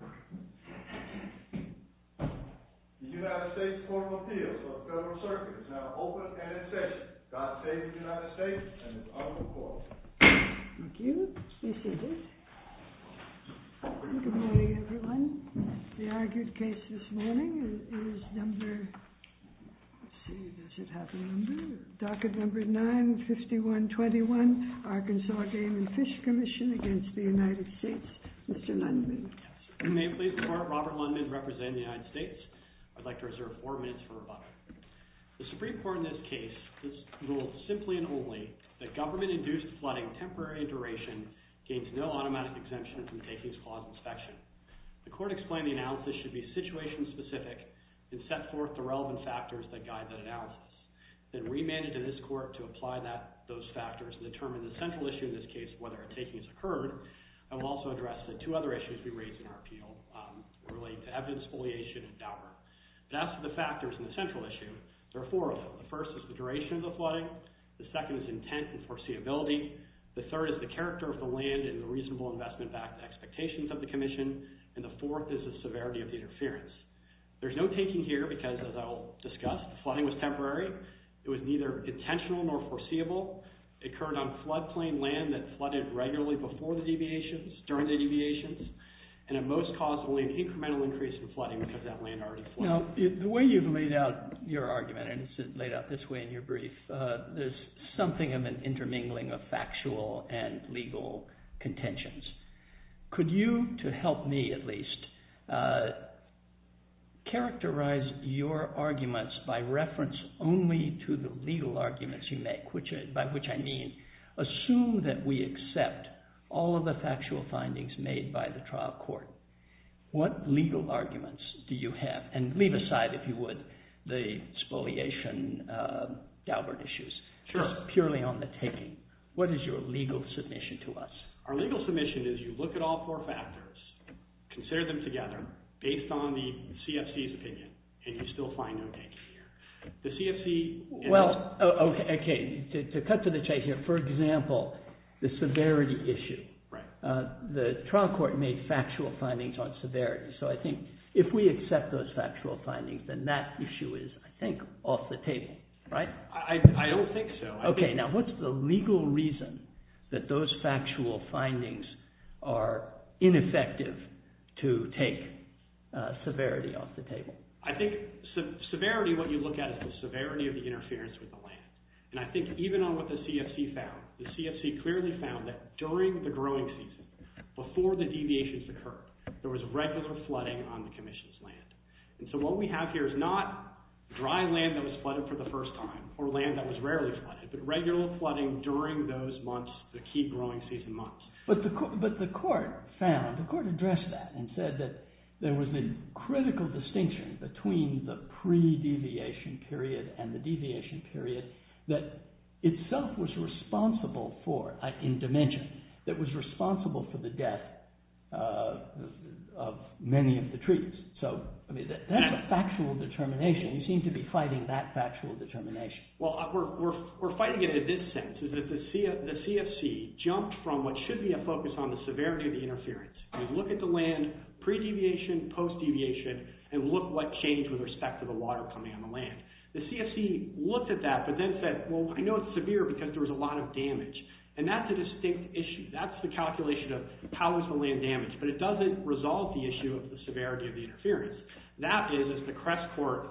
The United States Court of Appeals for the Federal Circuit is now open and in session. God save the United States and its unruly court. Thank you. This is it. Good morning, everyone. The argued case this morning is number... Let's see, does it have a number? Docket number 95121, Arkansas Game and Fish Commission against the United States, Mr. Lundman. If you may please report, Robert Lundman representing the United States. I'd like to reserve four minutes for rebuttal. The Supreme Court in this case has ruled simply and only that government-induced flooding temporary in duration gains no automatic exemption from takings clause inspection. The court explained the analysis should be situation-specific and set forth the relevant factors that guide that analysis. Then remanded to this court to apply those factors and determine the central issue in this case, whether a taking has occurred. I will also address the two other issues we raised in our appeal related to evidence foliation and dower. As for the factors in the central issue, there are four of them. The first is the duration of the flooding. The second is intent and foreseeability. The third is the character of the land and the reasonable investment expectations of the commission. And the fourth is the severity of the interference. There's no taking here because, as I'll discuss, the flooding was temporary. It was neither intentional nor foreseeable. It occurred on floodplain land that flooded regularly before the deviations, during the deviations. And it most caused only an incremental increase in flooding because that land already flooded. Now, the way you've laid out your argument, and it's laid out this way in your brief, there's something of an intermingling of factual and legal contentions. Could you, to help me at least, characterize your arguments by reference only to the legal arguments you make, by which I mean assume that we accept all of the factual findings made by the trial court. What legal arguments do you have? And leave aside, if you would, the exfoliation dower issues. It's purely on the taking. What is your legal submission to us? Our legal submission is you look at all four factors, consider them together, based on the CFC's opinion, and you still find no taking here. The CFC— Well, okay, to cut to the chase here, for example, the severity issue. Right. The trial court made factual findings on severity. So I think if we accept those factual findings, then that issue is, I think, off the table, right? I don't think so. Okay, now what's the legal reason that those factual findings are ineffective to take severity off the table? I think severity, what you look at is the severity of the interference with the land. And I think even on what the CFC found, the CFC clearly found that during the growing season, before the deviations occurred, there was regular flooding on the commission's land. And so what we have here is not dry land that was flooded for the first time or land that was rarely flooded, but regular flooding during those months, the key growing season months. But the court found, the court addressed that and said that there was a critical distinction between the pre-deviation period and the deviation period that itself was responsible for, in dimension, that was responsible for the death of many of the trees. So, I mean, that's a factual determination. You seem to be fighting that factual determination. Well, we're fighting it in this sense, is that the CFC jumped from what should be a focus on the severity of the interference. We look at the land pre-deviation, post-deviation, and look what changed with respect to the water coming on the land. The CFC looked at that, but then said, well, I know it's severe because there was a lot of damage. And that's a distinct issue. That's the calculation of powers of the land damage. But it doesn't resolve the issue of the severity of the interference. That is, as the Crest Court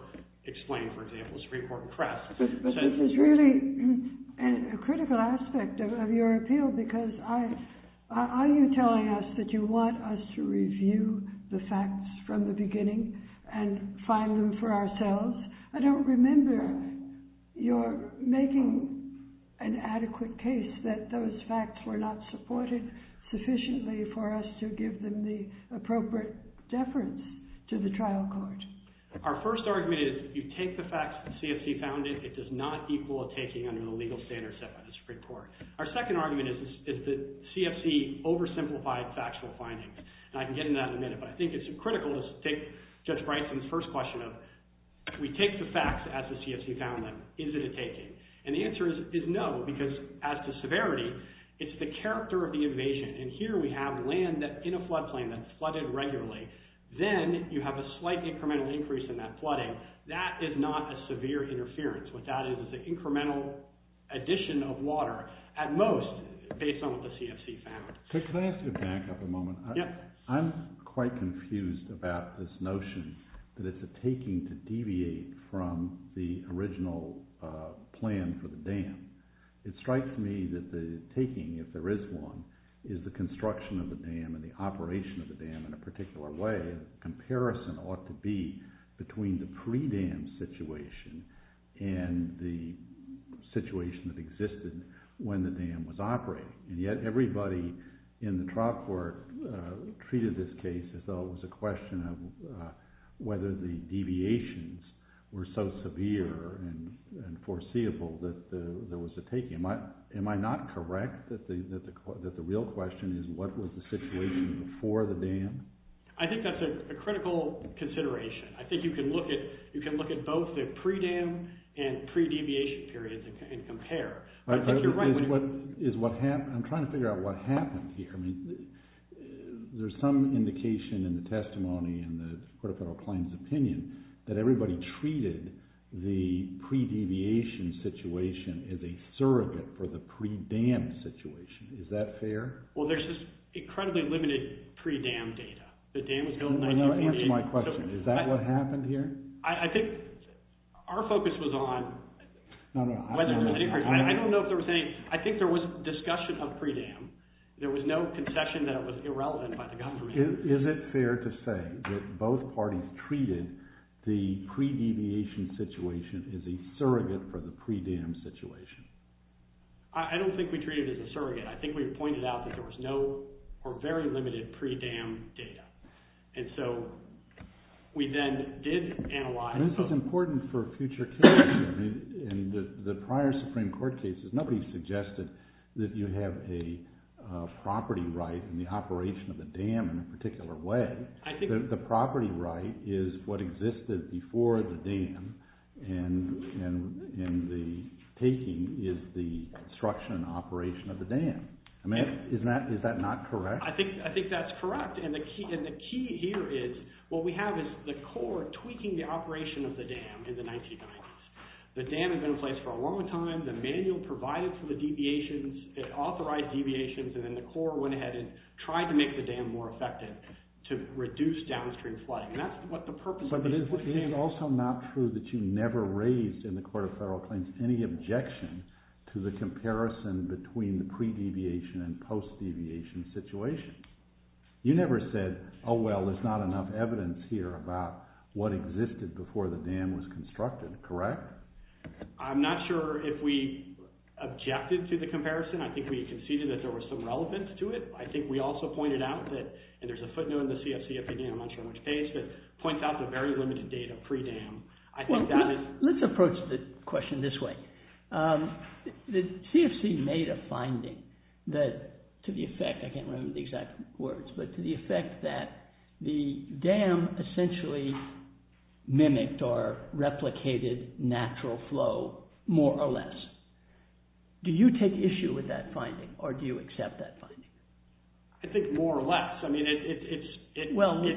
explained, for example, Supreme Court in Crest. But this is really a critical aspect of your appeal, because are you telling us that you want us to review the facts from the beginning and find them for ourselves? I don't remember your making an adequate case that those facts were not supported sufficiently for us to give them the appropriate deference to the trial court. Our first argument is if you take the facts that the CFC found it, it does not equal a taking under the legal standards set by the Supreme Court. Our second argument is that the CFC oversimplified factual findings. And I can get into that in a minute, but I think it's critical to take Judge Bryson's first question of, if we take the facts as the CFC found them, is it a taking? And the answer is no, because as to severity, it's the character of the invasion. And here we have land in a floodplain that's flooded regularly. Then you have a slight incremental increase in that flooding. That is not a severe interference. What that is is an incremental addition of water, at most, based on what the CFC found. Could I ask you to back up a moment? I'm quite confused about this notion that it's a taking to deviate from the original plan for the dam. It strikes me that the taking, if there is one, is the construction of the dam and the operation of the dam in a particular way. The comparison ought to be between the pre-dam situation and the situation that existed when the dam was operating. And yet everybody in the trial court treated this case as though it was a question of whether the deviations were so severe and foreseeable that there was a taking. Am I not correct that the real question is what was the situation before the dam? I think that's a critical consideration. I think you can look at both the pre-dam and pre-deviation periods and compare. I'm trying to figure out what happened here. There's some indication in the testimony and the Court of Federal Claims opinion that everybody treated the pre-deviation situation as a surrogate for the pre-dam situation. Is that fair? Well, there's this incredibly limited pre-dam data. Answer my question. Is that what happened here? I think our focus was on... I don't know if they were saying... I think there was discussion of pre-dam. There was no concession that it was irrelevant by the government. Is it fair to say that both parties treated the pre-deviation situation as a surrogate for the pre-dam situation? I don't think we treated it as a surrogate. I think we pointed out that there was no or very limited pre-dam data. And so we then did analyze... This is important for future cases. In the prior Supreme Court cases, nobody suggested that you have a property right in the operation of the dam in a particular way. The property right is what existed before the dam, and the taking is the construction and operation of the dam. Is that not correct? I think that's correct. And the key here is what we have is the court tweaking the operation of the dam in the 1990s. The dam had been in place for a long time. The manual provided for the deviations. It authorized deviations. And then the court went ahead and tried to make the dam more effective to reduce downstream flooding. And that's what the purpose... But is it also not true that you never raised in the Court of Federal Claims any objection to the comparison between the pre-deviation and post-deviation situations? You never said, oh, well, there's not enough evidence here about what existed before the dam was constructed, correct? I'm not sure if we objected to the comparison. I think we conceded that there was some relevance to it. I think we also pointed out that... And there's a footnote in the CFC, if you need a mention in which case, that points out the very limited data pre-dam. I think that is... Let's approach the question this way. The CFC made a finding that to the effect... I can't remember the exact words, but to the effect that the dam essentially mimicked or replicated natural flow more or less. Do you take issue with that finding or do you accept that finding? I think more or less. I don't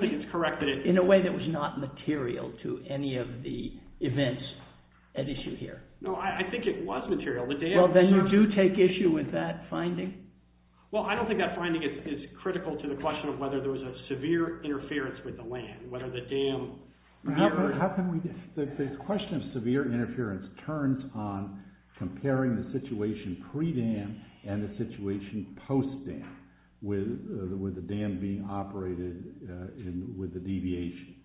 think it's correct that it... In a way that was not material to any of the events at issue here. No, I think it was material. Well, then you do take issue with that finding? Well, I don't think that finding is critical to the question of whether there was a severe interference with the land, whether the dam... The question of severe interference turns on comparing the situation pre-dam and the situation post-dam with the dam being operated with the deviation.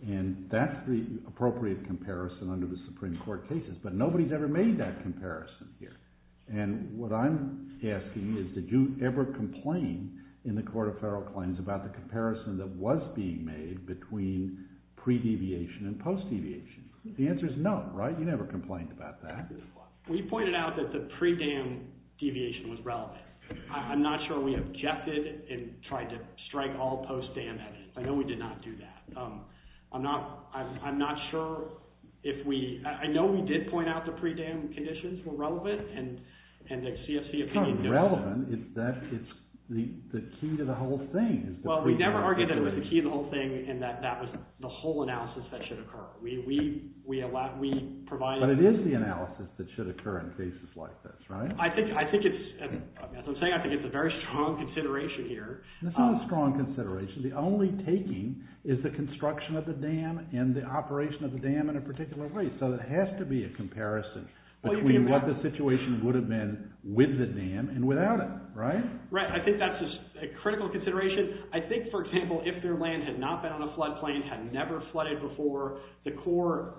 And that's the appropriate comparison under the Supreme Court cases, but nobody's ever made that comparison here. And what I'm asking is, did you ever complain in the Court of Federal Claims about the comparison that was being made between pre-deviation and post-deviation? The answer is no, right? You never complained about that. We pointed out that the pre-dam deviation was relevant. I'm not sure we objected and tried to strike all post-dam at it. I know we did not do that. I'm not sure if we... I know we did point out the pre-dam conditions were relevant and the CFC opinion... It's not relevant. It's the key to the whole thing. Well, we never argued that it was the key to the whole thing and that that was the whole analysis that should occur. We provided... But it is the analysis that should occur in cases like this, right? I think it's... As I'm saying, I think it's a very strong consideration here. It's not a strong consideration. The only taking is the construction of the dam and the operation of the dam in a particular way. So there has to be a comparison between what the situation would have been with the dam and without it, right? Right. I think that's a critical consideration. I think, for example, if their land had not been on a floodplain, had never flooded before, the Corps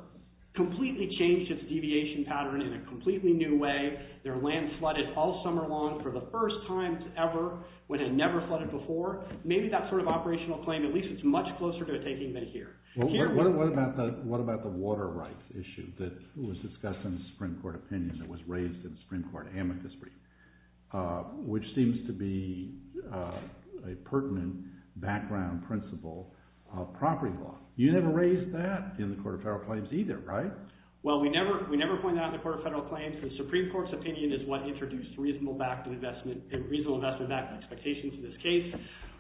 completely changed its deviation pattern in a completely new way. Their land flooded all summer long for the first time ever when it never flooded before. Maybe that sort of operational claim, at least it's much closer to a taking than here. What about the water rights issue that was discussed in the Supreme Court opinion that was raised in the Supreme Court amicus brief, which seems to be a pertinent background principle of property law? You never raised that in the Court of Federal Claims either, right? Well, we never pointed that out in the Court of Federal Claims. The Supreme Court's opinion is what introduced reasonable investment back and expectations in this case.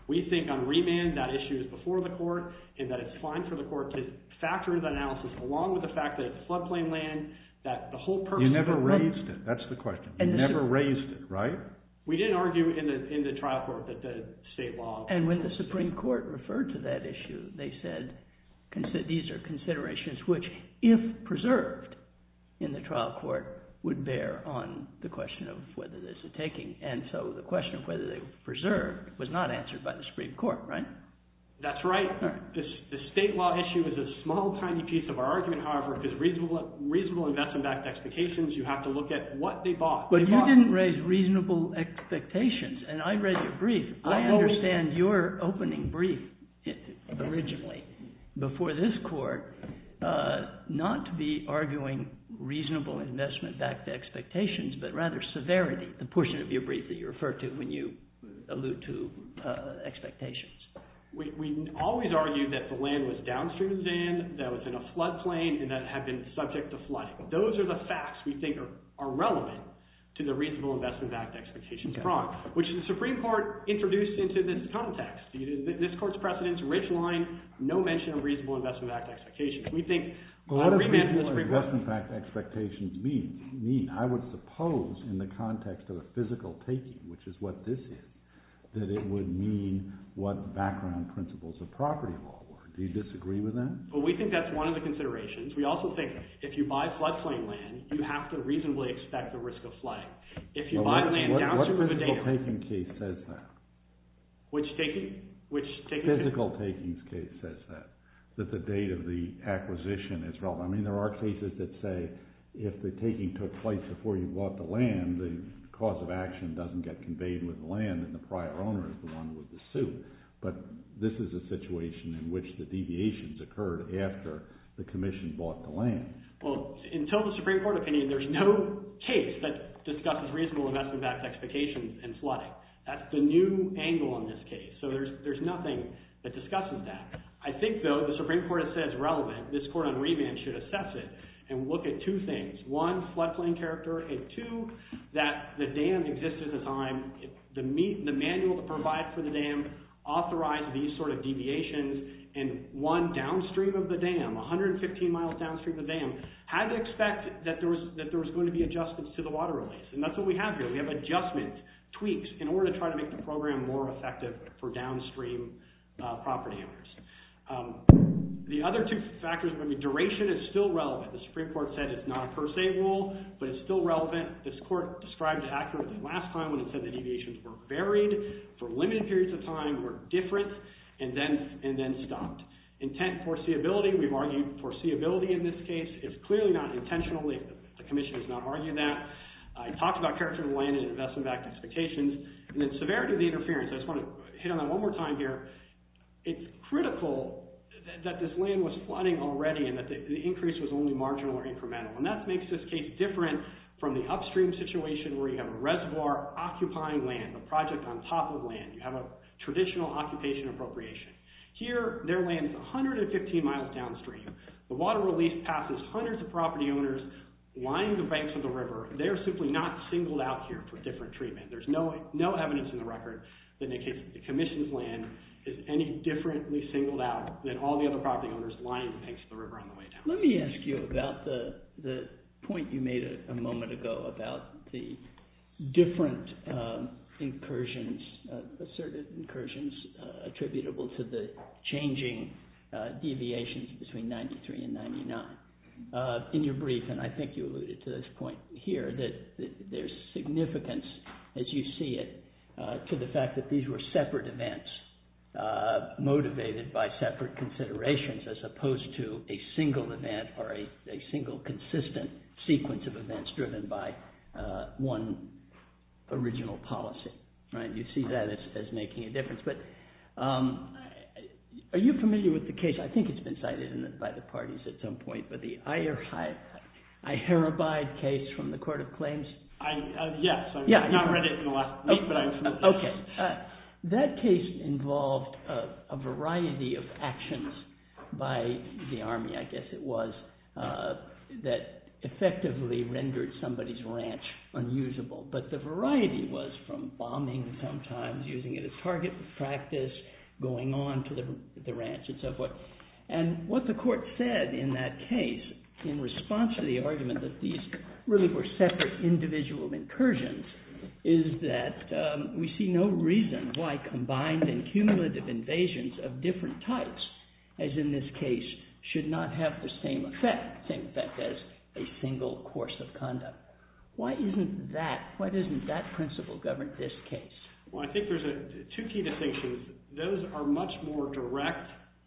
We think on remand that issue is before the court and that it's fine for the court to factor in the analysis along with the fact that it's floodplain land that the whole purpose... You never raised it. That's the question. You never raised it, right? We didn't argue in the trial court that the state law... And when the Supreme Court referred to that issue, they said these are considerations which, if preserved in the trial court, would bear on the question of whether there's a taking. And so the question of whether they were preserved was not answered by the Supreme Court, right? That's right. The state law issue is a small, tiny piece of our argument. However, if it's reasonable investment backed expectations, you have to look at what they bought. But you didn't raise reasonable expectations, and I read your brief. I understand your opening brief originally before this court not to be arguing reasonable investment backed expectations, but rather severity, the portion of your brief that you refer to when you allude to expectations. We always argue that the land was downstream exam, that it was in a floodplain, and that it had been subject to flooding. Those are the facts we think are relevant to the reasonable investment backed expectations fraud, which the Supreme Court introduced into this context. This court's precedents, Rich Line, no mention of reasonable investment backed expectations. What does reasonable investment backed expectations mean? I would suppose in the context of a physical taking, which is what this is, that it would mean what background principles of property law were. Do you disagree with that? Well, we think that's one of the considerations. We also think if you buy floodplain land, you have to reasonably expect the risk of flood. What physical taking case says that? Which taking? Physical takings case says that, that the date of the acquisition is relevant. I mean there are cases that say if the taking took place before you bought the land, the cause of action doesn't get conveyed with the land, and the prior owner is the one with the suit. But this is a situation in which the deviations occurred after the commission bought the land. Well, in total Supreme Court opinion, there's no case that discusses reasonable investment backed expectations and flooding. That's the new angle in this case. So there's nothing that discusses that. I think, though, the Supreme Court has said it's relevant. This court on remand should assess it and look at two things. One, floodplain character. And two, that the dam existed at the time. The manual to provide for the dam authorized these sort of deviations. And one, downstream of the dam, 115 miles downstream of the dam, had to expect that there was going to be adjustments to the water release. And that's what we have here. We have adjustments, tweaks, in order to try to make the program more effective for downstream property owners. The other two factors would be duration is still relevant. The Supreme Court said it's not a per se rule, but it's still relevant. This court described accurately last time when it said the deviations were varied for limited periods of time, were different, and then stopped. Intent foreseeability, we've argued foreseeability in this case. It's clearly not intentional. The commission has not argued that. I talked about character of the land and investment backed expectations. And then severity of the interference. I just want to hit on that one more time here. It's critical that this land was flooding already and that the increase was only marginal or incremental. And that makes this case different from the upstream situation where you have a reservoir occupying land, a project on top of land. You have a traditional occupation appropriation. Here, their land is 115 miles downstream. The water release passes hundreds of property owners lining the banks of the river. They are simply not singled out here for different treatment. There's no evidence in the record that the commission's land is any differently singled out than all the other property owners lining the banks of the river on the way down. Let me ask you about the point you made a moment ago about the different asserted incursions attributable to the changing deviations between 93 and 99. In your brief, and I think you alluded to this point here, that there's significance, as you see it, to the fact that these were separate events motivated by separate considerations as opposed to a single event or a single consistent sequence of events driven by one original policy. You see that as making a difference. But are you familiar with the case? I think it's been cited by the parties at some point, but the Iherabide case from the Court of Claims. Yes, I read it in the last week, but I'm familiar. That case involved a variety of actions by the army, I guess it was, that effectively rendered somebody's ranch unusable. But the variety was from bombing sometimes, using it as target practice, going on to the ranch, and so forth. And what the court said in that case in response to the argument that these really were separate individual incursions is that we see no reason why combined and cumulative invasions of different types, as in this case, should not have the same effect as a single course of conduct. Why isn't that principle governed in this case? Well, I think there's two key distinctions. Those are much more direct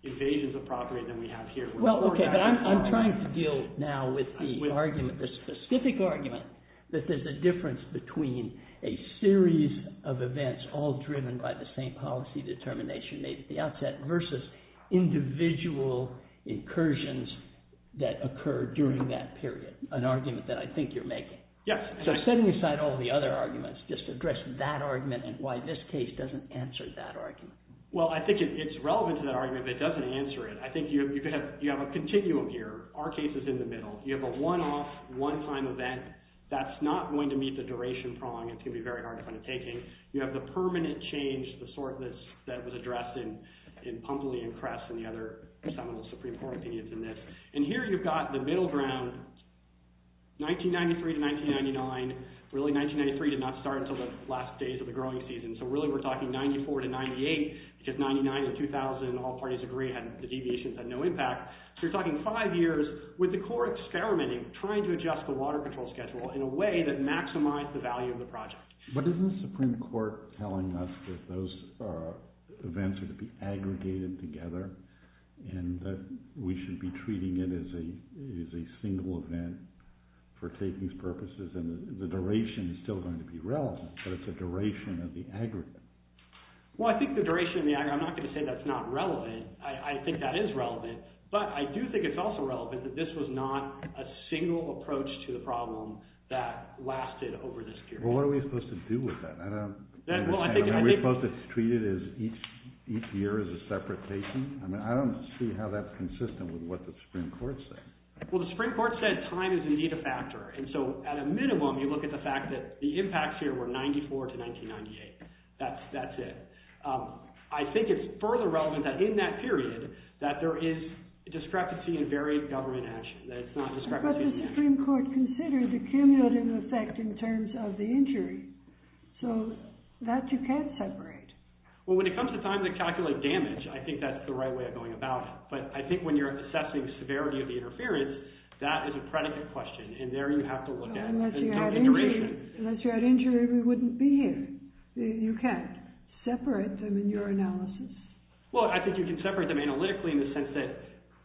invasions of property than we have here. Well, okay, but I'm trying to deal now with the specific argument that there's a difference between a series of events all driven by the same policy determination made at the outset versus individual incursions that occurred during that period, an argument that I think you're making. Yes. So setting aside all the other arguments, just address that argument and why this case doesn't answer that argument. Well, I think it's relevant to that argument, but it doesn't answer it. I think you have a continuum here. Our case is in the middle. You have a one-off, one-time event. That's not going to meet the duration prong. It's going to be very hard to find a taking. You have the permanent change, the sort that was addressed in Pumbley and Kress and the other, some of the Supreme Court opinions in this. And here you've got the middle ground, 1993 to 1999. Really, 1993 did not start until the last days of the growing season. So really we're talking 94 to 98 because 99 or 2000, all parties agree, the deviations had no impact. So you're talking five years with the court experimenting, trying to adjust the water control schedule in a way that maximized the value of the project. But isn't the Supreme Court telling us that those events are to be aggregated together and that we should be treating it as a single event for takings purposes? And the duration is still going to be relevant, but it's a duration of the aggregate. Well, I think the duration of the aggregate – I'm not going to say that's not relevant. I think that is relevant, but I do think it's also relevant that this was not a single approach to the problem that lasted over this period. Well, what are we supposed to do with that? Are we supposed to treat it as each year as a separate patient? I don't see how that's consistent with what the Supreme Court said. Well, the Supreme Court said time is indeed a factor. And so at a minimum you look at the fact that the impacts here were 94 to 1998. That's it. I think it's further relevant that in that period that there is discrepancy in very government action. But the Supreme Court considered the cumulative effect in terms of the injury, so that you can't separate. Well, when it comes to time to calculate damage, I think that's the right way of going about it. But I think when you're assessing severity of the interference, that is a predicate question, and there you have to look at the duration. Unless you had injury, we wouldn't be here. You can't separate them in your analysis. Well, I think you can separate them analytically in the sense that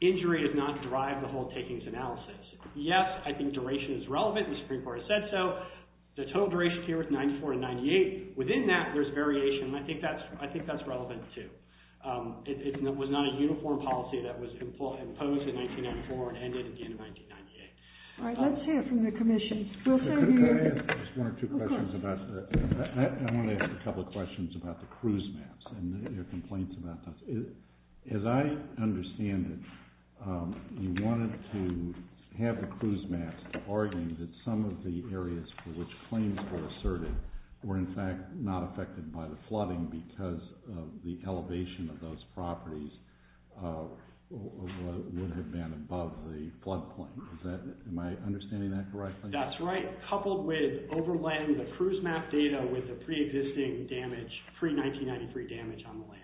injury does not drive the whole takings analysis. Yes, I think duration is relevant, and the Supreme Court has said so. The total duration here was 94 and 98. Within that, there's variation, and I think that's relevant, too. It was not a uniform policy that was imposed in 1994 and ended at the end of 1998. All right, let's hear from the Commission. Could I ask one or two questions about that? I want to ask a couple of questions about the cruise maps and your complaints about them. As I understand it, you wanted to have the cruise maps arguing that some of the areas for which claims were asserted were, in fact, not affected by the flooding because of the elevation of those properties would have been above the flood point. Am I understanding that correctly? That's right, coupled with overlaying the cruise map data with the pre-existing damage, pre-1993 damage on the land.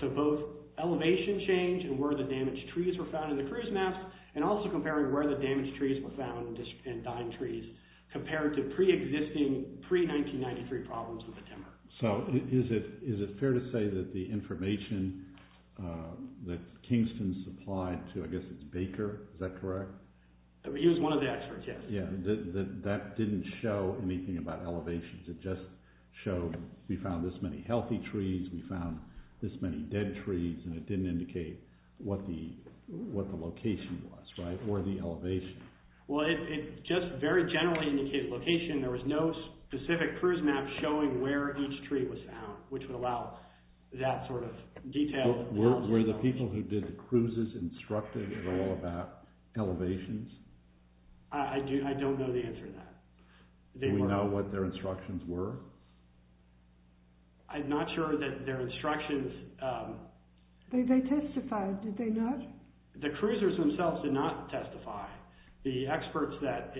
So both elevation change and where the damaged trees were found in the cruise maps and also comparing where the damaged trees were found and dying trees compared to pre-existing, pre-1993 problems with the timber. So is it fair to say that the information that Kingston supplied to, I guess it's Baker, is that correct? He was one of the experts, yes. That didn't show anything about elevations. It just showed we found this many healthy trees, we found this many dead trees, and it didn't indicate what the location was or the elevation. Well, it just very generally indicated location. There was no specific cruise map showing where each tree was found, which would allow that sort of detailed analysis. Were the people who did the cruises instructive at all about elevations? I don't know the answer to that. Do we know what their instructions were? I'm not sure that their instructions… They testified, did they not? The cruisers themselves did not testify. The experts that…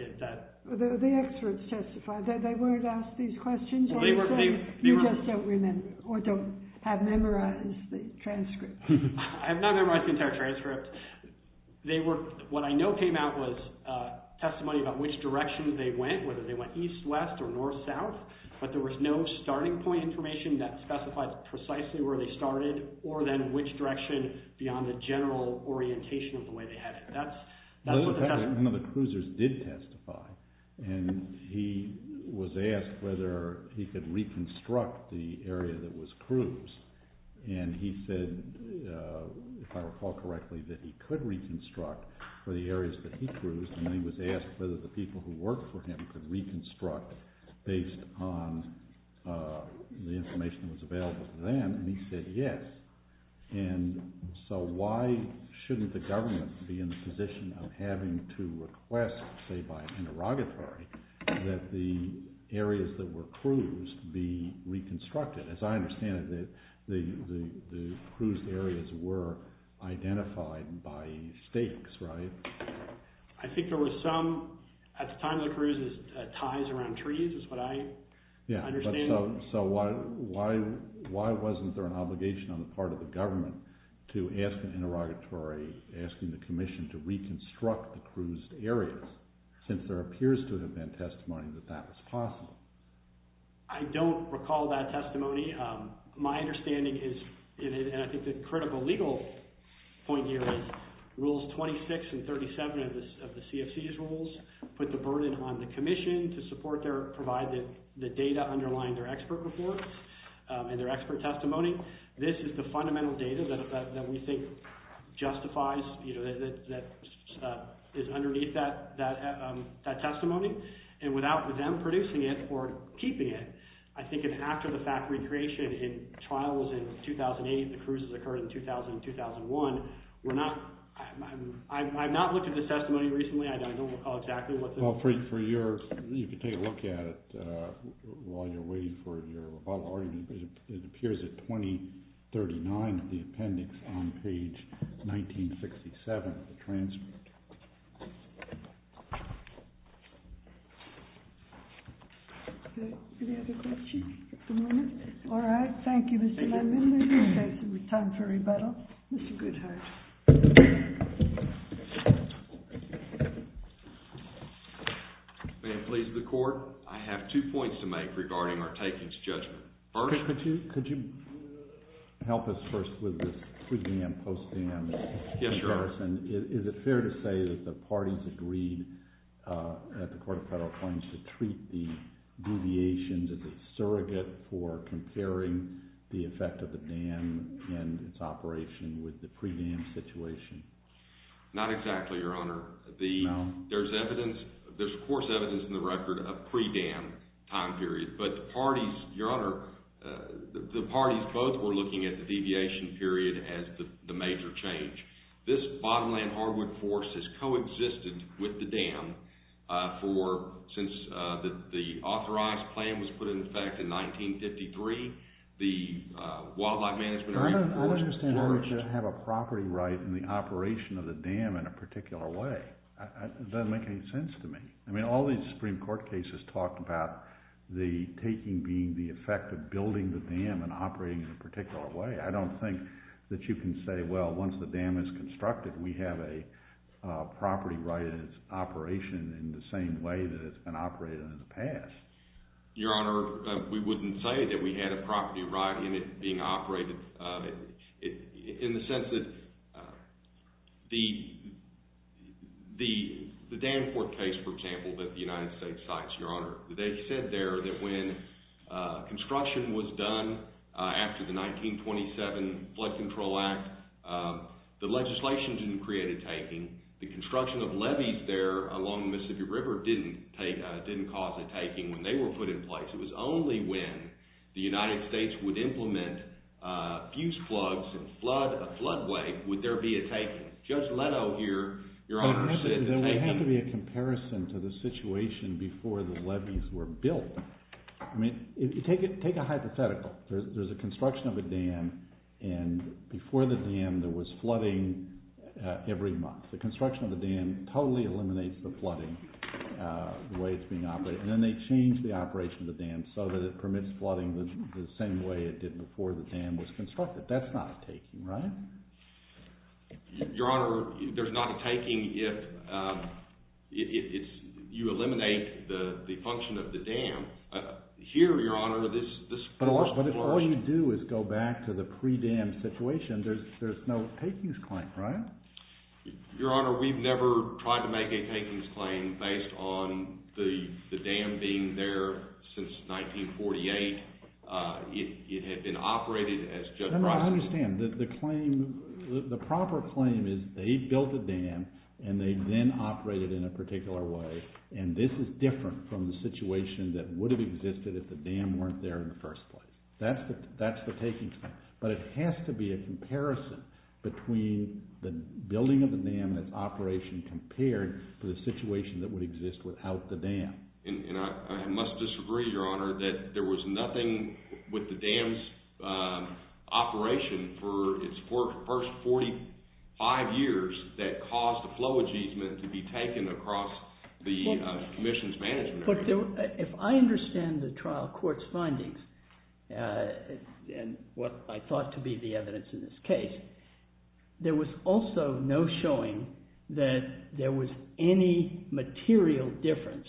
The experts testified. They weren't asked these questions like you just don't remember or don't have memorized the transcript. I have not memorized the entire transcript. What I know came out was testimony about which direction they went, whether they went east, west, or north, south. But there was no starting point information that specified precisely where they started or then which direction beyond the general orientation of the way they headed. That's what the… One of the cruisers did testify, and he was asked whether he could reconstruct the area that was cruised. And he said, if I recall correctly, that he could reconstruct for the areas that he cruised. And he was asked whether the people who worked for him could reconstruct based on the information that was available to them, and he said yes. And so why shouldn't the government be in the position of having to request, say by interrogatory, that the areas that were cruised be reconstructed? As I understand it, the cruised areas were identified by stakes, right? I think there were some, at the time of the cruises, ties around trees is what I understand. So why wasn't there an obligation on the part of the government to ask an interrogatory, asking the commission to reconstruct the cruised areas since there appears to have been testimony that that was possible? I don't recall that testimony. My understanding is – and I think the critical legal point here is Rules 26 and 37 of the CFC's rules put the burden on the commission to support their – provide the data underlying their expert report and their expert testimony. This is the fundamental data that we think justifies – that is underneath that testimony. And without them producing it or keeping it, I think if after the fact recreation in trials in 2008, the cruises occurred in 2000 and 2001, we're not – I've not looked at the testimony recently. I don't recall exactly what the – Well, for your – you can take a look at it while you're waiting for your rebuttal argument. It appears at 2039 in the appendix on page 1967 of the transcript. Any other questions at the moment? All right. Thank you, Mr. Landin. Thank you. It's time for rebuttal. Mr. Goodhart. May it please the court. I have two points to make regarding our takings judgment. First – Could you help us first with this pre-dam, post-dam comparison? Yes, sir. Is it fair to say that the parties agreed at the Court of Federal Claims to treat the deviations as a surrogate for comparing the effect of the dam and its operation with the pre-dam situation? Not exactly, Your Honor. No? There's evidence – there's, of course, evidence in the record of pre-dam time periods. But the parties – Your Honor, the parties both were looking at the deviation period as the major change. This bottomland hardwood forest has coexisted with the dam for – since the authorized plan was put in effect in 1953, the wildlife management – I don't understand why we should have a property right in the operation of the dam in a particular way. It doesn't make any sense to me. I mean, all these Supreme Court cases talked about the taking being the effect of building the dam and operating in a particular way. I don't think that you can say, well, once the dam is constructed, we have a property right in its operation in the same way that it's been operated in the past. Your Honor, we wouldn't say that we had a property right in it being operated in the sense that the Danforth case, for example, that the United States cites, Your Honor, they said there that when construction was done after the 1927 Flood Control Act, the legislation didn't create a taking. The construction of levees there along the Mississippi River didn't cause a taking when they were put in place. It was only when the United States would implement fused floods and flood a floodway would there be a taking. Judge Leto here, Your Honor, said that they— There would have to be a comparison to the situation before the levees were built. I mean, take a hypothetical. There's a construction of a dam, and before the dam there was flooding every month. The construction of the dam totally eliminates the flooding, the way it's being operated. And then they change the operation of the dam so that it permits flooding the same way it did before the dam was constructed. That's not a taking, right? Your Honor, there's not a taking if you eliminate the function of the dam. Here, Your Honor, this— But all you do is go back to the pre-dam situation. There's no takings claim, right? Your Honor, we've never tried to make a takings claim based on the dam being there since 1948. It had been operated as— Your Honor, I understand. The claim—the proper claim is they built the dam, and they then operated it in a particular way, and this is different from the situation that would have existed if the dam weren't there in the first place. That's the takings claim. But it has to be a comparison between the building of the dam that's operation compared to the situation that would exist without the dam. And I must disagree, Your Honor, that there was nothing with the dam's operation for its first 45 years that caused the flow agement to be taken across the commission's management. Look, if I understand the trial court's findings and what I thought to be the evidence in this case, there was also no showing that there was any material difference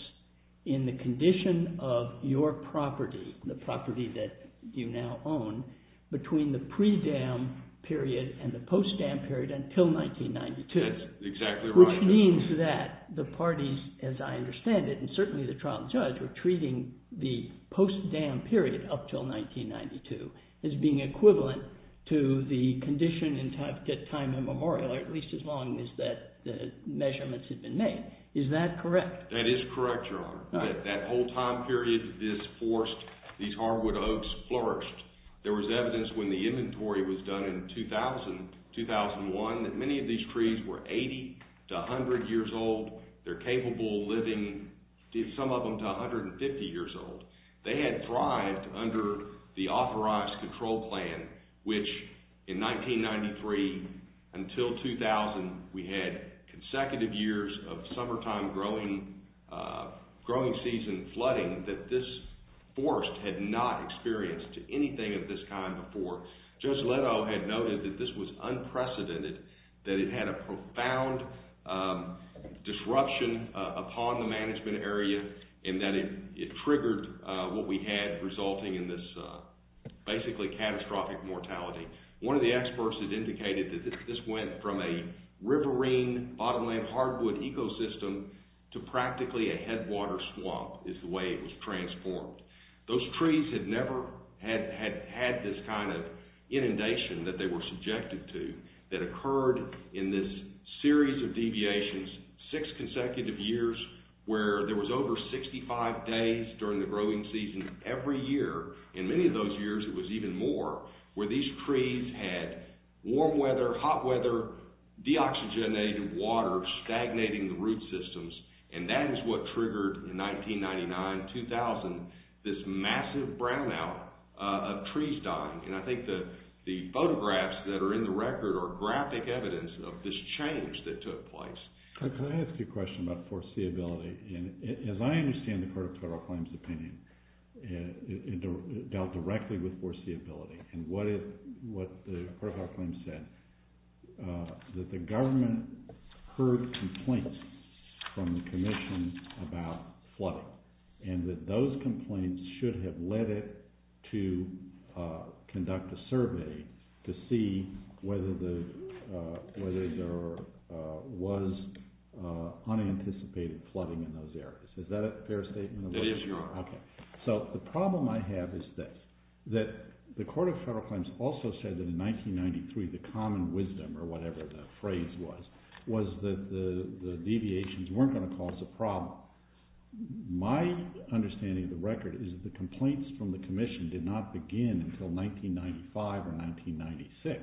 in the condition of your property, the property that you now own, between the pre-dam period and the post-dam period until 1992. That's exactly right. Which means that the parties, as I understand it, and certainly the trial judge, were treating the post-dam period up until 1992 as being equivalent to the condition at time immemorial, at least as long as the measurements had been made. Is that correct? That is correct, Your Honor. That whole time period that this forest, these hardwood oaks flourished, there was evidence when the inventory was done in 2000, 2001, that many of these trees were 80 to 100 years old. They're capable of living, some of them, to 150 years old. They had thrived under the authorized control plan, which in 1993 until 2000 we had consecutive years of summertime growing season flooding that this forest had not experienced anything of this kind before. Judge Leto had noted that this was unprecedented, that it had a profound disruption upon the management area and that it triggered what we had resulting in this basically catastrophic mortality. One of the experts had indicated that this went from a riverine, bottomland hardwood ecosystem to practically a headwater swamp is the way it was transformed. Those trees had never had this kind of inundation that they were subjected to that occurred in this series of deviations, six consecutive years, where there was over 65 days during the growing season every year. In many of those years it was even more, where these trees had warm weather, hot weather, deoxygenated water stagnating the root systems, and that is what triggered in 1999-2000 this massive brownout of trees dying. I think the photographs that are in the record are graphic evidence of this change that took place. Can I ask you a question about foreseeability? As I understand the Court of Federal Claims' opinion, it dealt directly with foreseeability and what the Court of Federal Claims said, that the government heard complaints from the Commission about flooding and that those complaints should have led it to conduct a survey to see whether there was unanticipated flooding in those areas. Is that a fair statement? It is, Your Honor. The problem I have is that the Court of Federal Claims also said that in 1993 the common wisdom, or whatever the phrase was, was that the deviations weren't going to cause a problem. My understanding of the record is that the complaints from the Commission did not begin until 1995 or 1996,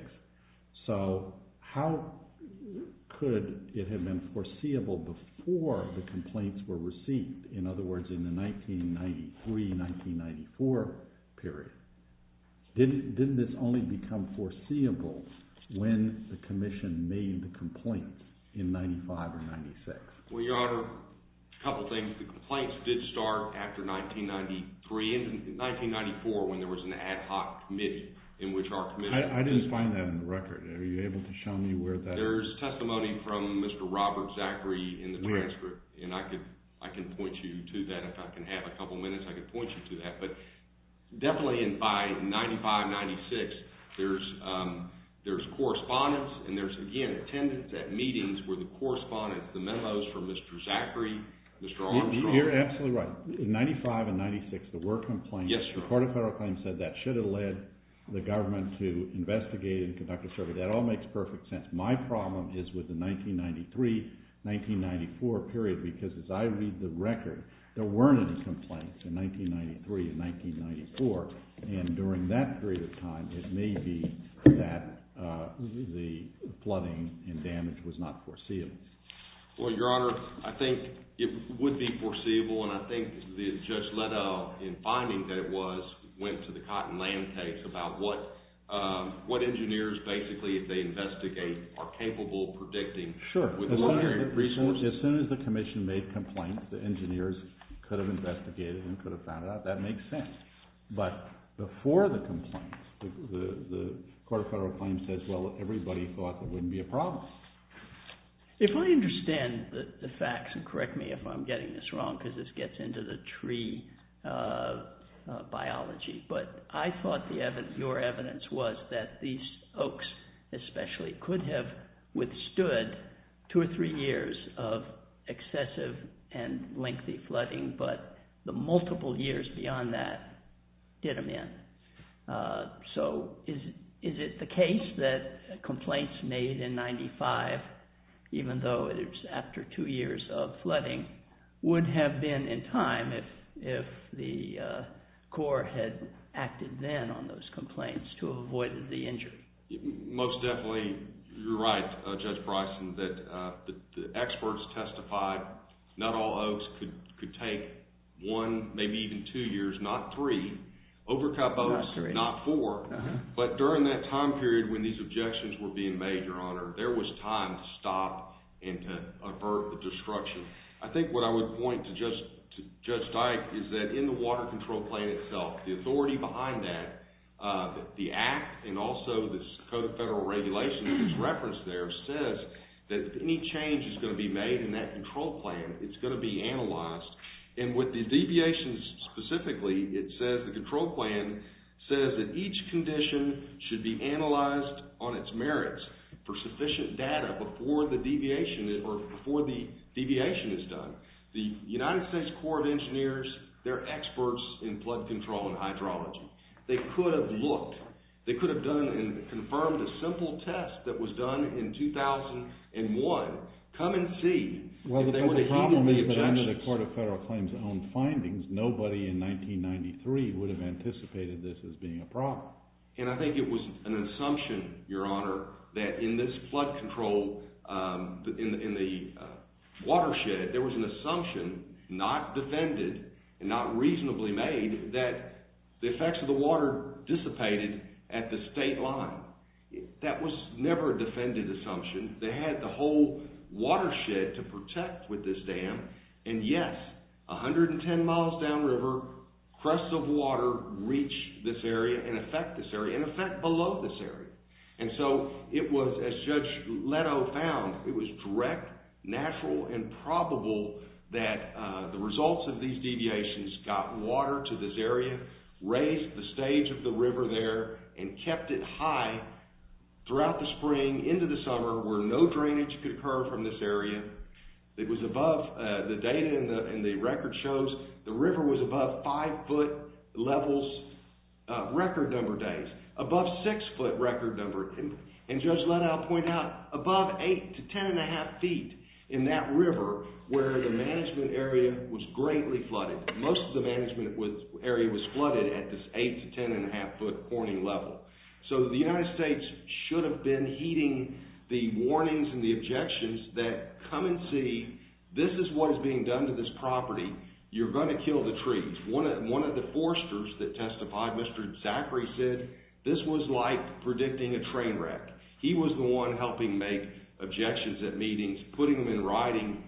so how could it have been foreseeable before the complaints were received? In other words, in the 1993-1994 period, didn't this only become foreseeable when the Commission made the complaints in 1995 or 1996? Well, Your Honor, a couple of things. The complaints did start after 1993. In 1994, when there was an ad hoc committee in which our Commission... I didn't find that in the record. Are you able to show me where that is? There's testimony from Mr. Robert Zachary in the transcript, and I can point you to that. If I can have a couple of minutes, I can point you to that. But definitely by 1995-1996, there's correspondence, and there's, again, attendance at meetings where the correspondence, the memos from Mr. Zachary, Mr. Armstrong... You're absolutely right. In 1995 and 1996, there were complaints. Yes, Your Honor. The Court of Federal Claims said that should have led the government to investigate and conduct a survey. That all makes perfect sense. My problem is with the 1993-1994 period because, as I read the record, there weren't any complaints in 1993 and 1994, and during that period of time, it may be that the flooding and damage was not foreseeable. Well, Your Honor, I think it would be foreseeable, and I think Judge Leto, in finding that it was, went to the Cottonland case about what engineers, basically, if they investigate, are capable of predicting. Sure. As soon as the commission made complaints, the engineers could have investigated and could have found out. That makes sense. But before the complaints, the Court of Federal Claims says, well, everybody thought there wouldn't be a problem. If I understand the facts, and correct me if I'm getting this wrong because this gets into the tree biology, but I thought your evidence was that these oaks, especially, could have withstood two or three years of excessive and lengthy flooding, but the multiple years beyond that did them in. So is it the case that complaints made in 1995, would have been in time if the court had acted then on those complaints to avoid the injury? Most definitely, you're right, Judge Bryson, that the experts testified not all oaks could take one, maybe even two years, not three. Overcut oaks, not four. But during that time period when these objections were being made, Your Honor, there was time to stop and to avert the destruction. I think what I would point to Judge Dyke is that in the Water Control Plan itself, the authority behind that, the Act and also this Code of Federal Regulations that's referenced there says that if any change is going to be made in that control plan, it's going to be analyzed. And with the deviations specifically, it says the control plan says that each condition should be analyzed on its merits for sufficient data before the deviation is done. The United States Corps of Engineers, they're experts in flood control and hydrology. They could have looked. They could have done and confirmed a simple test that was done in 2001. Come and see. Well, the problem is that under the Court of Federal Claims' own findings, nobody in 1993 would have anticipated this as being a problem. And I think it was an assumption, Your Honor, that in this flood control in the watershed, there was an assumption not defended and not reasonably made that the effects of the water dissipated at the state line. That was never a defended assumption. They had the whole watershed to protect with this dam. And, yes, 110 miles downriver, crusts of water reach this area and affect this area and affect below this area. And so it was, as Judge Leto found, it was direct, natural, and probable that the results of these deviations got water to this area, raised the stage of the river there, and kept it high throughout the spring, into the summer, where no drainage could occur from this area. It was above the data and the record shows the river was above five-foot levels record number days. Above six-foot record number, and Judge Leto pointed out, above eight to ten and a half feet in that river where the management area was greatly flooded. Most of the management area was flooded at this eight to ten and a half foot warning level. So the United States should have been heeding the warnings and the objections that, come and see, this is what is being done to this property. You're going to kill the trees. One of the foresters that testified, Mr. Zachary, said this was like predicting a train wreck. He was the one helping make objections at meetings, putting them in writing,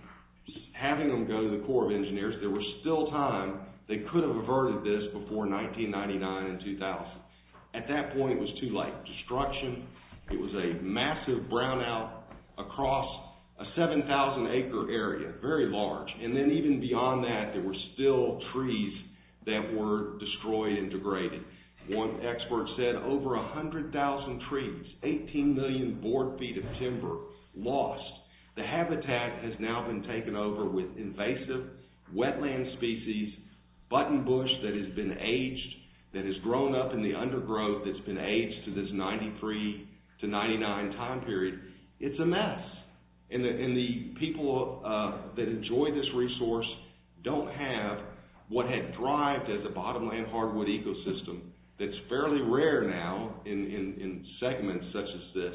having them go to the Corps of Engineers. There was still time. They could have averted this before 1999 and 2000. At that point, it was too late. Destruction. It was a massive brownout across a 7,000 acre area. Very large. And then even beyond that, there were still trees that were destroyed and degraded. One expert said over 100,000 trees, 18 million board feet of timber lost. The habitat has now been taken over with invasive wetland species, button bush that has been aged, that has grown up in the undergrowth that's been aged to this 93 to 99 time period. It's a mess. And the people that enjoy this resource don't have what had thrived as a bottomland hardwood ecosystem that's fairly rare now in segments such as this,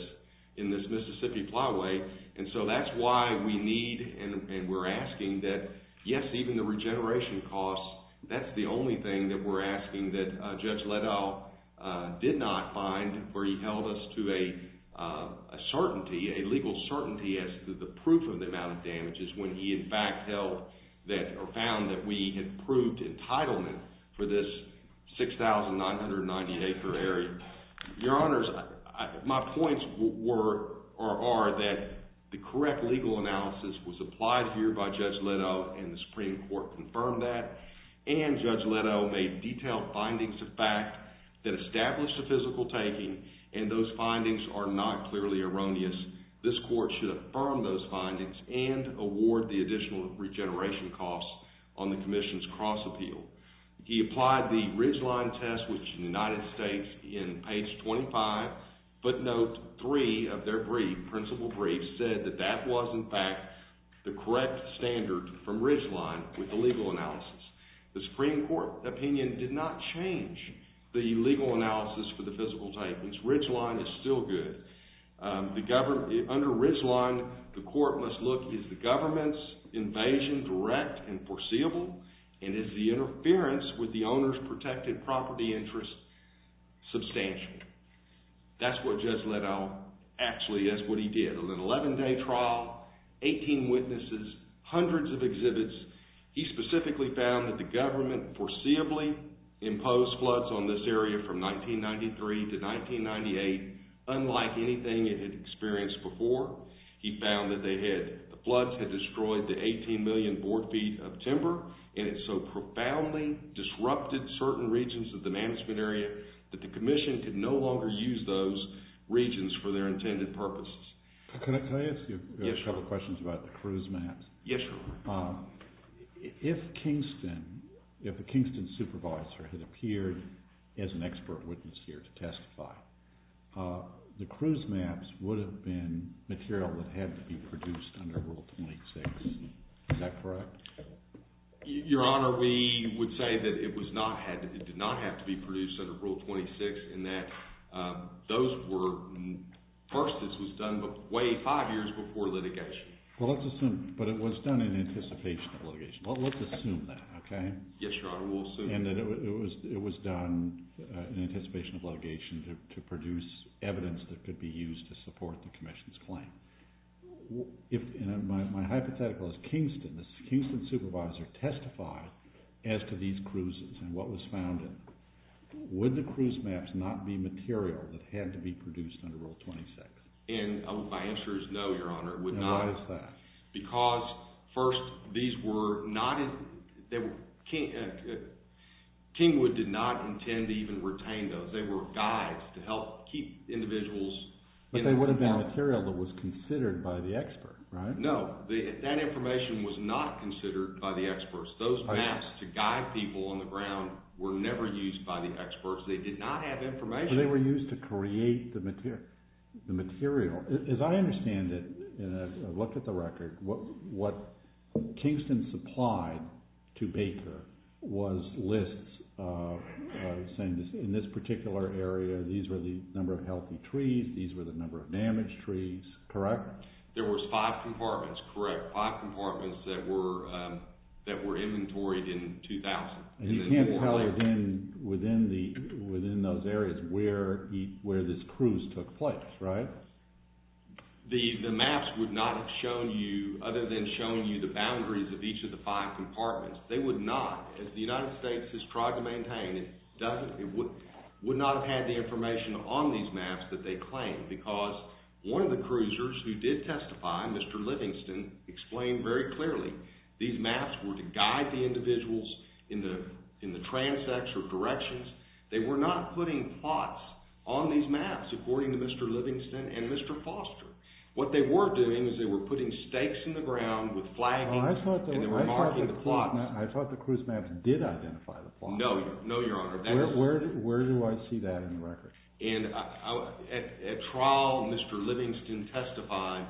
in this Mississippi Plyway. And so that's why we need and we're asking that, yes, even the regeneration costs, that's the only thing that we're asking that Judge Leddow did not find where he held us to a legal certainty as to the proof of the amount of damages when he in fact found that we had proved entitlement for this 6,990 acre area. Your Honors, my points are that the correct legal analysis was applied here by Judge Leddow and the Supreme Court confirmed that, and Judge Leddow made detailed findings of fact that established the physical taking and those findings are not clearly erroneous. This court should affirm those findings and award the additional regeneration costs on the commission's cross-appeal. He applied the Ridgeline test, which in the United States, in page 25, footnote 3 of their brief, principal brief, said that that was in fact the correct standard from Ridgeline with the legal analysis. The Supreme Court opinion did not change the legal analysis for the physical takings. Ridgeline is still good. Under Ridgeline, the court must look, is the government's invasion direct and foreseeable and is the interference with the owner's protected property interest substantial? That's what Judge Leddow actually, that's what he did. An 11-day trial, 18 witnesses, hundreds of exhibits, he specifically found that the government foreseeably imposed floods on this area from 1993 to 1998 unlike anything it had experienced before. He found that they had, the floods had destroyed the 18 million board feet of timber and it so profoundly disrupted certain regions of the management area that the commission could no longer use those regions for their intended purposes. Can I ask you a couple questions about the cruise maps? Yes, Your Honor. If Kingston, if a Kingston supervisor had appeared as an expert witness here to testify, the cruise maps would have been material that had to be produced under Rule 26. Is that correct? Your Honor, we would say that it did not have to be produced under Rule 26 in that those were, first this was done way five years before litigation. Well, let's assume, but it was done in anticipation of litigation. Well, let's assume that, okay? Yes, Your Honor, we'll assume that. And that it was done in anticipation of litigation to produce evidence that could be used to support the commission's claim. My hypothetical is Kingston, the Kingston supervisor testified as to these cruises and what was found in them. Would the cruise maps not be material that had to be produced under Rule 26? My answer is no, Your Honor, it would not. Why is that? Because first these were not, Kingwood did not intend to even retain those. They were guides to help keep individuals. But they would have been material that was considered by the expert, right? No, that information was not considered by the experts. Those maps to guide people on the ground were never used by the experts. They did not have information. They were used to create the material. As I understand it, and I've looked at the record, what Kingston supplied to Baker was lists saying in this particular area these were the number of healthy trees, these were the number of damaged trees, correct? There were five compartments, correct, five compartments that were inventoried in 2000. And you can't tell within those areas where this cruise took place, right? The maps would not have shown you, other than showing you the boundaries of each of the five compartments. They would not, as the United States has tried to maintain, would not have had the information on these maps that they claim because one of the cruisers who did testify, Mr. Livingston, explained very clearly these maps were to guide the individuals in the transects or directions. They were not putting plots on these maps, according to Mr. Livingston and Mr. Foster. What they were doing is they were putting stakes in the ground with flagging and they were marking the plots. I thought the cruise maps did identify the plots. No, no, Your Honor. Where do I see that in the record? At trial, Mr. Livingston testified.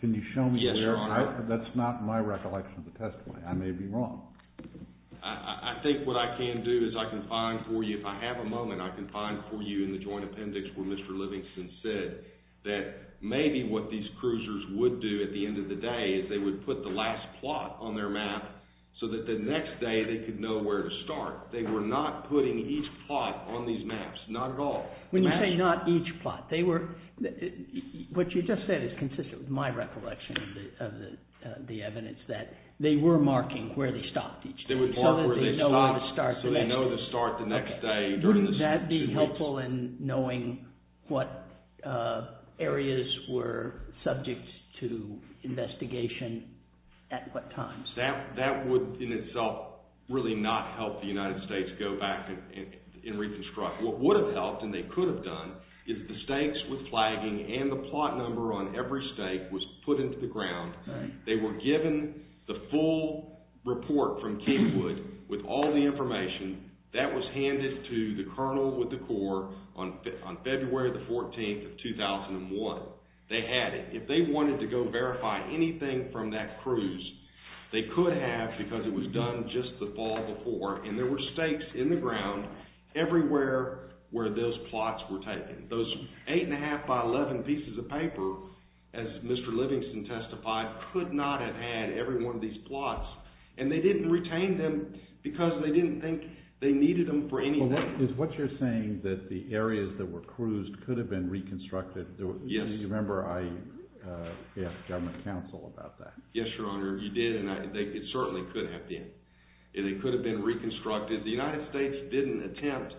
Can you show me there? Yes, Your Honor. That's not my recollection of the testimony. I may be wrong. I think what I can do is I can find for you, if I have a moment, I can find for you in the joint appendix where Mr. Livingston said that maybe what these cruisers would do at the end of the day is they would put the last plot on their map so that the next day they could know where to start. They were not putting each plot on these maps, not at all. When you say not each plot, what you just said is consistent with my recollection of the evidence that they were marking where they stopped each day so that they know where to start the next day. Wouldn't that be helpful in knowing what areas were subject to investigation at what times? That would in itself really not help the United States go back and reconstruct. What would have helped and they could have done is the stakes with flagging and the plot number on every stake was put into the ground. They were given the full report from Kingwood with all the information. That was handed to the Colonel with the Corps on February 14, 2001. They had it. If they wanted to go verify anything from that cruise, they could have because it was done just the fall before, and there were stakes in the ground everywhere where those plots were taken. Those 8 1⁄2 by 11 pieces of paper, as Mr. Livingston testified, could not have had every one of these plots, and they didn't retain them because they didn't think they needed them for anything. What you're saying is that the areas that were cruised could have been reconstructed. Do you remember I asked government counsel about that? Yes, Your Honor, you did, and it certainly could have been. They could have been reconstructed. The United States didn't attempt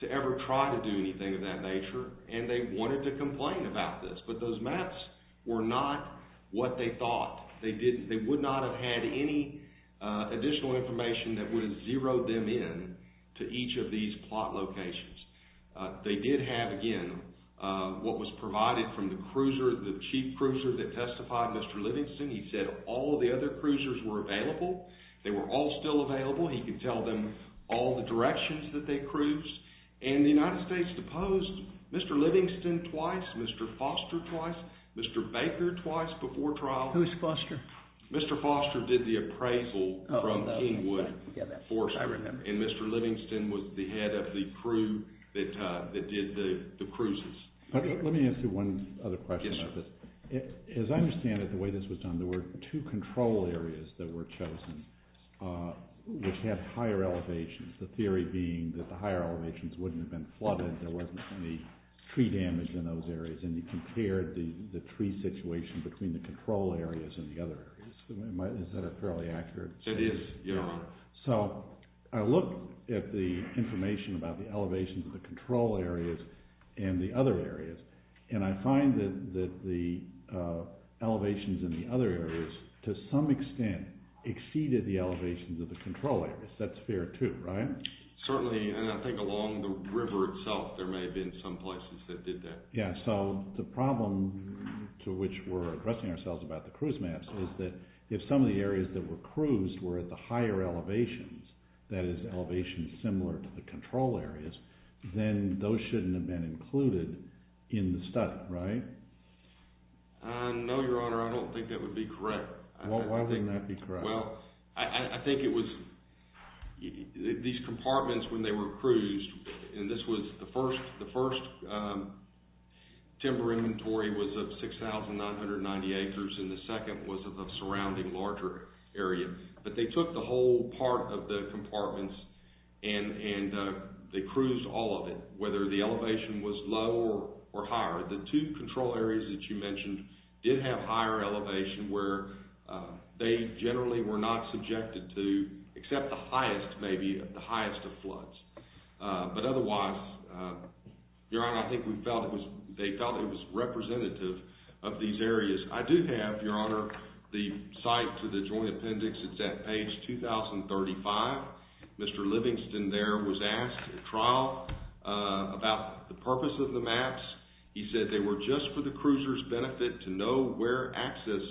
to ever try to do anything of that nature, and they wanted to complain about this, but those maps were not what they thought. They would not have had any additional information that would have zeroed them in to each of these plot locations. They did have, again, what was provided from the cruiser, the chief cruiser that testified, Mr. Livingston. He said all of the other cruisers were available. They were all still available. He could tell them all the directions that they cruised, and the United States deposed Mr. Livingston twice, Mr. Foster twice, Mr. Baker twice before trial. Who was Foster? Mr. Foster did the appraisal from Kingwood Forestry, and Mr. Livingston was the head of the crew that did the cruises. Let me ask you one other question about this. As I understand it, the way this was done, there were two control areas that were chosen, which had higher elevations, the theory being that the higher elevations wouldn't have been flooded, there wasn't any tree damage in those areas, and you compared the tree situation between the control areas and the other areas. Is that a fairly accurate statement? It is, Your Honor. So I looked at the information about the elevations of the control areas and the other areas, and I find that the elevations in the other areas, to some extent, exceeded the elevations of the control areas. That's fair too, right? Certainly, and I think along the river itself there may have been some places that did that. Yeah, so the problem to which we're addressing ourselves about the cruise maps is that if some of the areas that were cruised were at the higher elevations, that is elevations similar to the control areas, then those shouldn't have been included in the study, right? No, Your Honor, I don't think that would be correct. Why wouldn't that be correct? Well, I think it was these compartments when they were cruised, and this was the first timber inventory was of 6,990 acres, and the second was of the surrounding larger area, but they took the whole part of the compartments and they cruised all of it, whether the elevation was lower or higher. The two control areas that you mentioned did have higher elevation where they generally were not subjected to, except the highest maybe, the highest of floods. But otherwise, Your Honor, I think they felt it was representative of these areas. I do have, Your Honor, the site to the Joint Appendix. It's at page 2035. Mr. Livingston there was asked at trial about the purpose of the maps. He said they were just for the cruisers' benefit to know where access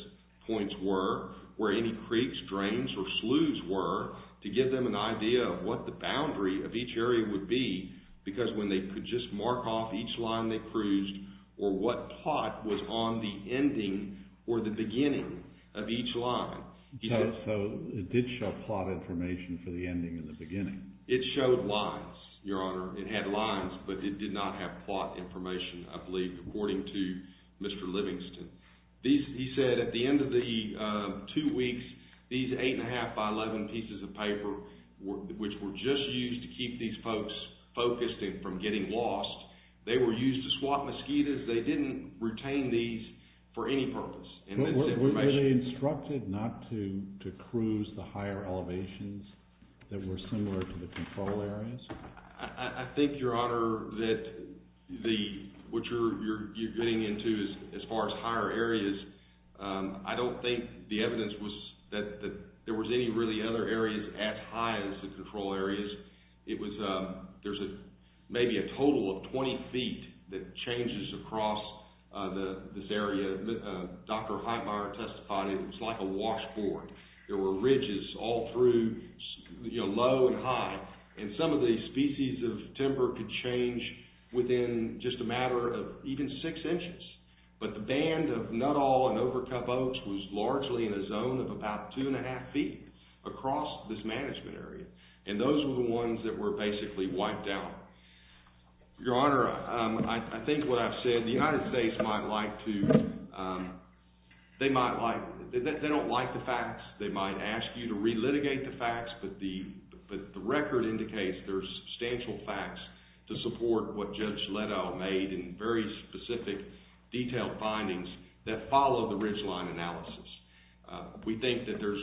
points were, where any creeks, drains, or sloughs were, to give them an idea of what the boundary of each area would be because when they could just mark off each line they cruised or what plot was on the ending or the beginning of each line. So it did show plot information for the ending and the beginning. It showed lines, Your Honor. It had lines, but it did not have plot information, I believe, according to Mr. Livingston. He said at the end of the two weeks, these 8 1⁄2 by 11 pieces of paper, which were just used to keep these folks focused and from getting lost, they were used to swap mosquitoes. They didn't retain these for any purpose. Were they instructed not to cruise the higher elevations that were similar to the control areas? I think, Your Honor, that what you're getting into as far as higher areas, I don't think the evidence was that there was any really other areas as high as the control areas. There's maybe a total of 20 feet that changes across this area. Dr. Heitmeyer testified it was like a washboard. There were ridges all through, low and high. And some of the species of timber could change within just a matter of even six inches. But the band of nut all and overcup oaks was largely in a zone of about 2 1⁄2 feet across this management area. And those were the ones that were basically wiped out. Your Honor, I think what I've said, the United States might like to— they don't like the facts. They might ask you to relitigate the facts. But the record indicates there's substantial facts to support what Judge Leddow made and very specific, detailed findings that follow the ridgeline analysis. We think that there's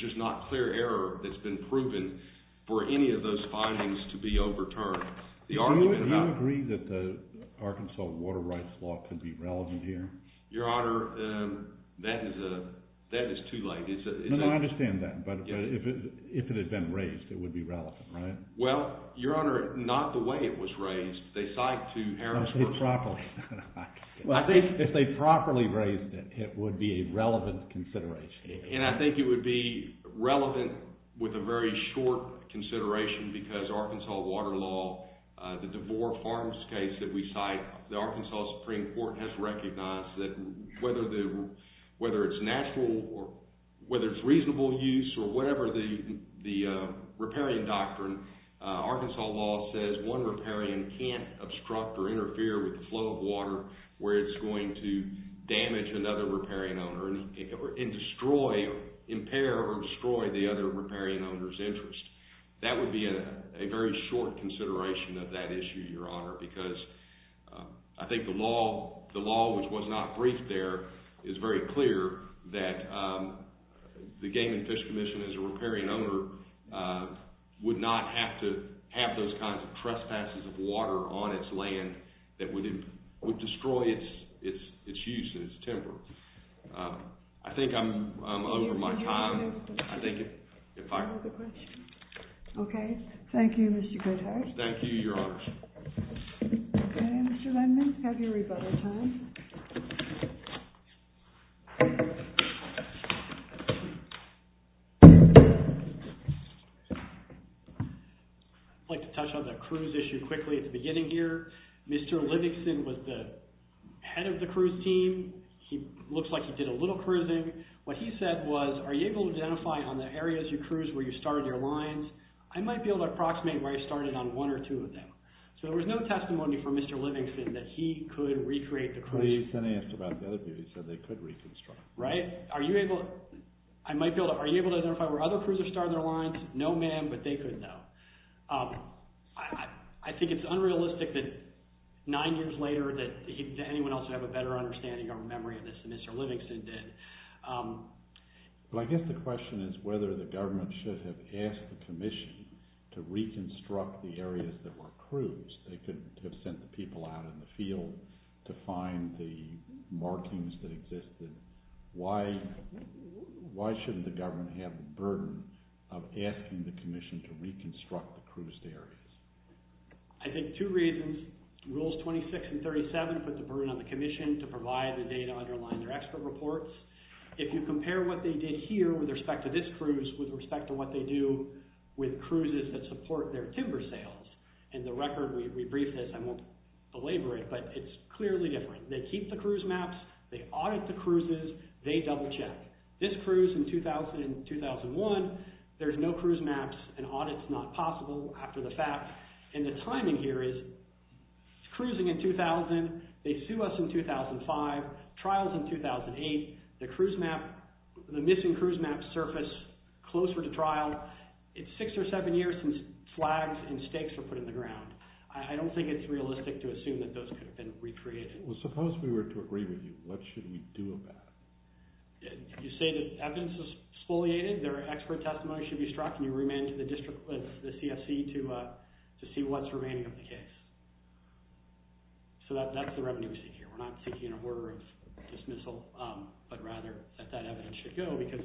just not clear error that's been proven for any of those findings to be overturned. Do you agree that the Arkansas water rights law could be relevant here? Your Honor, that is too late. No, no, I understand that. But if it had been raised, it would be relevant, right? Well, Your Honor, not the way it was raised. They cite to Harris— If they properly raised it, it would be a relevant consideration. And I think it would be relevant with a very short consideration because Arkansas water law, the DeVore Farms case that we cite, the Arkansas Supreme Court has recognized that whether it's natural or whether it's reasonable use or whatever the riparian doctrine, Arkansas law says one riparian can't obstruct or interfere with the flow of water where it's going to damage another riparian owner and impair or destroy the other riparian owner's interest. That would be a very short consideration of that issue, Your Honor, because I think the law, which was not briefed there, is very clear that the Game and Fish Commission as a riparian owner would not have to have those kinds of trespasses of water on its land that would destroy its use and its temper. I think I'm over my time. I think if I— Any other questions? Okay. Thank you, Mr. Goodhart. Thank you, Your Honor. Okay, Mr. Lindman, have your rebuttal time. I'd like to touch on the cruise issue quickly at the beginning here. Mr. Livingston was the head of the cruise team. He looks like he did a little cruising. What he said was, are you able to identify on the areas you cruise where you started your lines? I might be able to approximate where I started on one or two of them. So there was no testimony from Mr. Livingston that he could recreate the cruise. He said they could reconstruct. Right? Are you able to— Are you able to identify where other cruisers started their lines? No, ma'am, but they could, though. I think it's unrealistic that nine years later that anyone else would have a better understanding or memory of this than Mr. Livingston did. Well, I guess the question is whether the government should have asked the commission to reconstruct the areas that were cruised. They couldn't have sent the people out in the field to find the markings that existed. Why shouldn't the government have the burden of asking the commission to reconstruct the cruised areas? I think two reasons. Rules 26 and 37 put the burden on the commission to provide the data to underline their expert reports. If you compare what they did here with respect to this cruise with respect to what they do with cruises that support their timber sales, and the record we briefed says—I won't belabor it, but it's clearly different. They keep the cruise maps. They audit the cruises. They double-check. This cruise in 2001, there's no cruise maps. An audit's not possible after the fact. And the timing here is cruising in 2000. They sue us in 2005. Trial's in 2008. The missing cruise maps surface closer to trial. It's six or seven years since flags and stakes were put in the ground. I don't think it's realistic to assume that those could have been recreated. Well, suppose we were to agree with you. What should we do about it? You say that evidence is exfoliated, their expert testimony should be struck, and you remand to the district, the CFC, to see what's remaining of the case. So that's the revenue we see here. We're not seeking an order of dismissal, but rather that that evidence should go because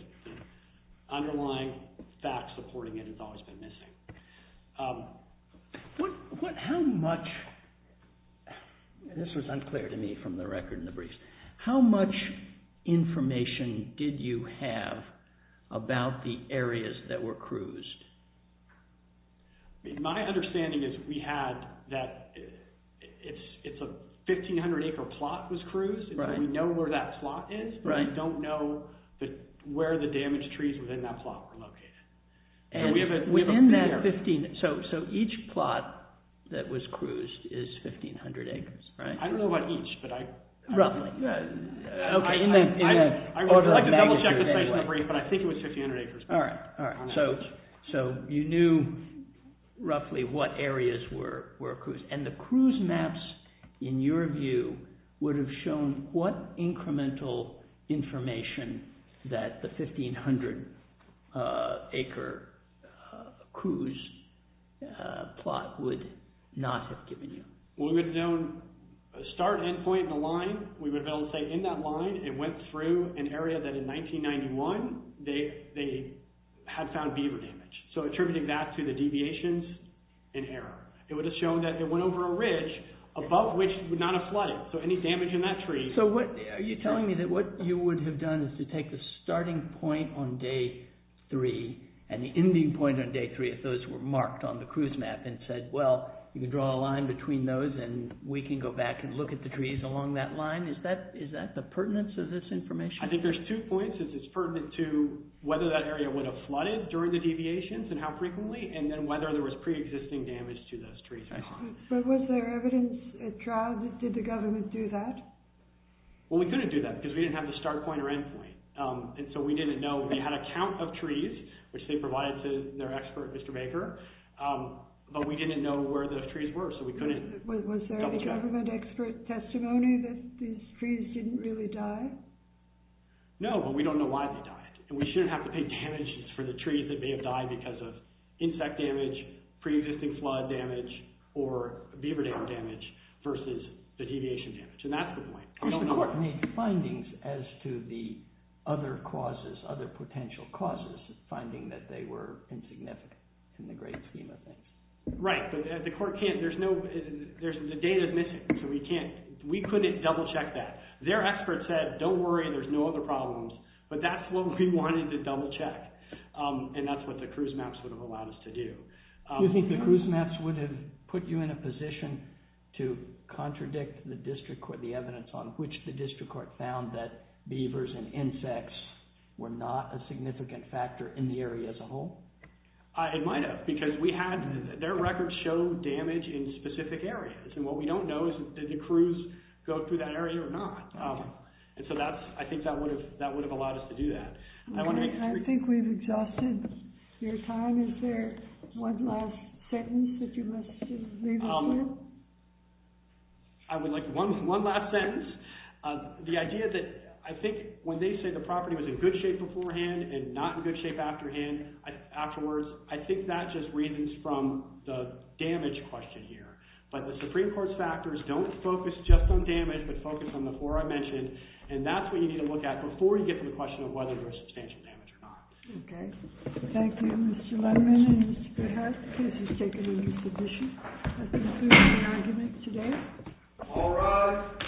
underlying facts supporting it has always been missing. How much—this was unclear to me from the record and the briefs. How much information did you have about the areas that were cruised? My understanding is we had that it's a 1,500-acre plot that was cruised. We know where that plot is, but we don't know where the damaged trees within that plot were located. And within that 1,500—so each plot that was cruised is 1,500 acres, right? I don't know about each, but I— Roughly. Okay. I would like to double-check the space in the brief, but I think it was 1,500 acres. All right, all right. So you knew roughly what areas were cruised. And the cruise maps, in your view, would have shown what incremental information that the 1,500-acre cruise plot would not have given you? We would have known a start end point and a line. We would have been able to say in that line it went through an area that in 1991 they had found beaver damage, so attributing that to the deviations in error. It would have shown that it went over a ridge above which it would not have flooded, so any damage in that tree— So are you telling me that what you would have done is to take the starting point on day three and the ending point on day three, if those were marked on the cruise map, and said, well, you can draw a line between those and we can go back and look at the trees along that line? Is that the pertinence of this information? I think there's two points. It's pertinent to whether that area would have flooded during the deviations and how frequently, and then whether there was preexisting damage to those trees. But was there evidence at trial that did the government do that? Well, we couldn't do that because we didn't have the start point or end point, and so we didn't know. We had a count of trees, which they provided to their expert, Mr. Baker, Was there a government expert testimony that these trees didn't really die? No, but we don't know why they died, and we shouldn't have to pay damages for the trees that may have died because of insect damage, preexisting flood damage, or beaver tail damage versus the deviation damage, and that's the point. Of course, the court made findings as to the other causes, other potential causes, finding that they were insignificant in the great scheme of things. Right, but the court can't. The data is missing, so we can't. We couldn't double-check that. Their expert said, don't worry, there's no other problems, but that's what we wanted to double-check, and that's what the cruise maps would have allowed us to do. Do you think the cruise maps would have put you in a position to contradict the evidence on which the district court found that beavers and insects were not a significant factor in the area as a whole? It might have, because their records show damage in specific areas, and what we don't know is did the cruise go through that area or not, and so I think that would have allowed us to do that. I think we've exhausted your time. Is there one last sentence that you'd like to leave us with? I would like one last sentence. The idea that I think when they say the property was in good shape beforehand and not in good shape afterwards, I think that just reasons from the damage question here, but the Supreme Court's factors don't focus just on damage but focus on the four I mentioned, and that's what you need to look at before you get to the question of whether there was substantial damage or not. Okay. Thank you, Mr. Lundman and Mr. Peres, because you've taken a new position. That concludes my argument today. All rise.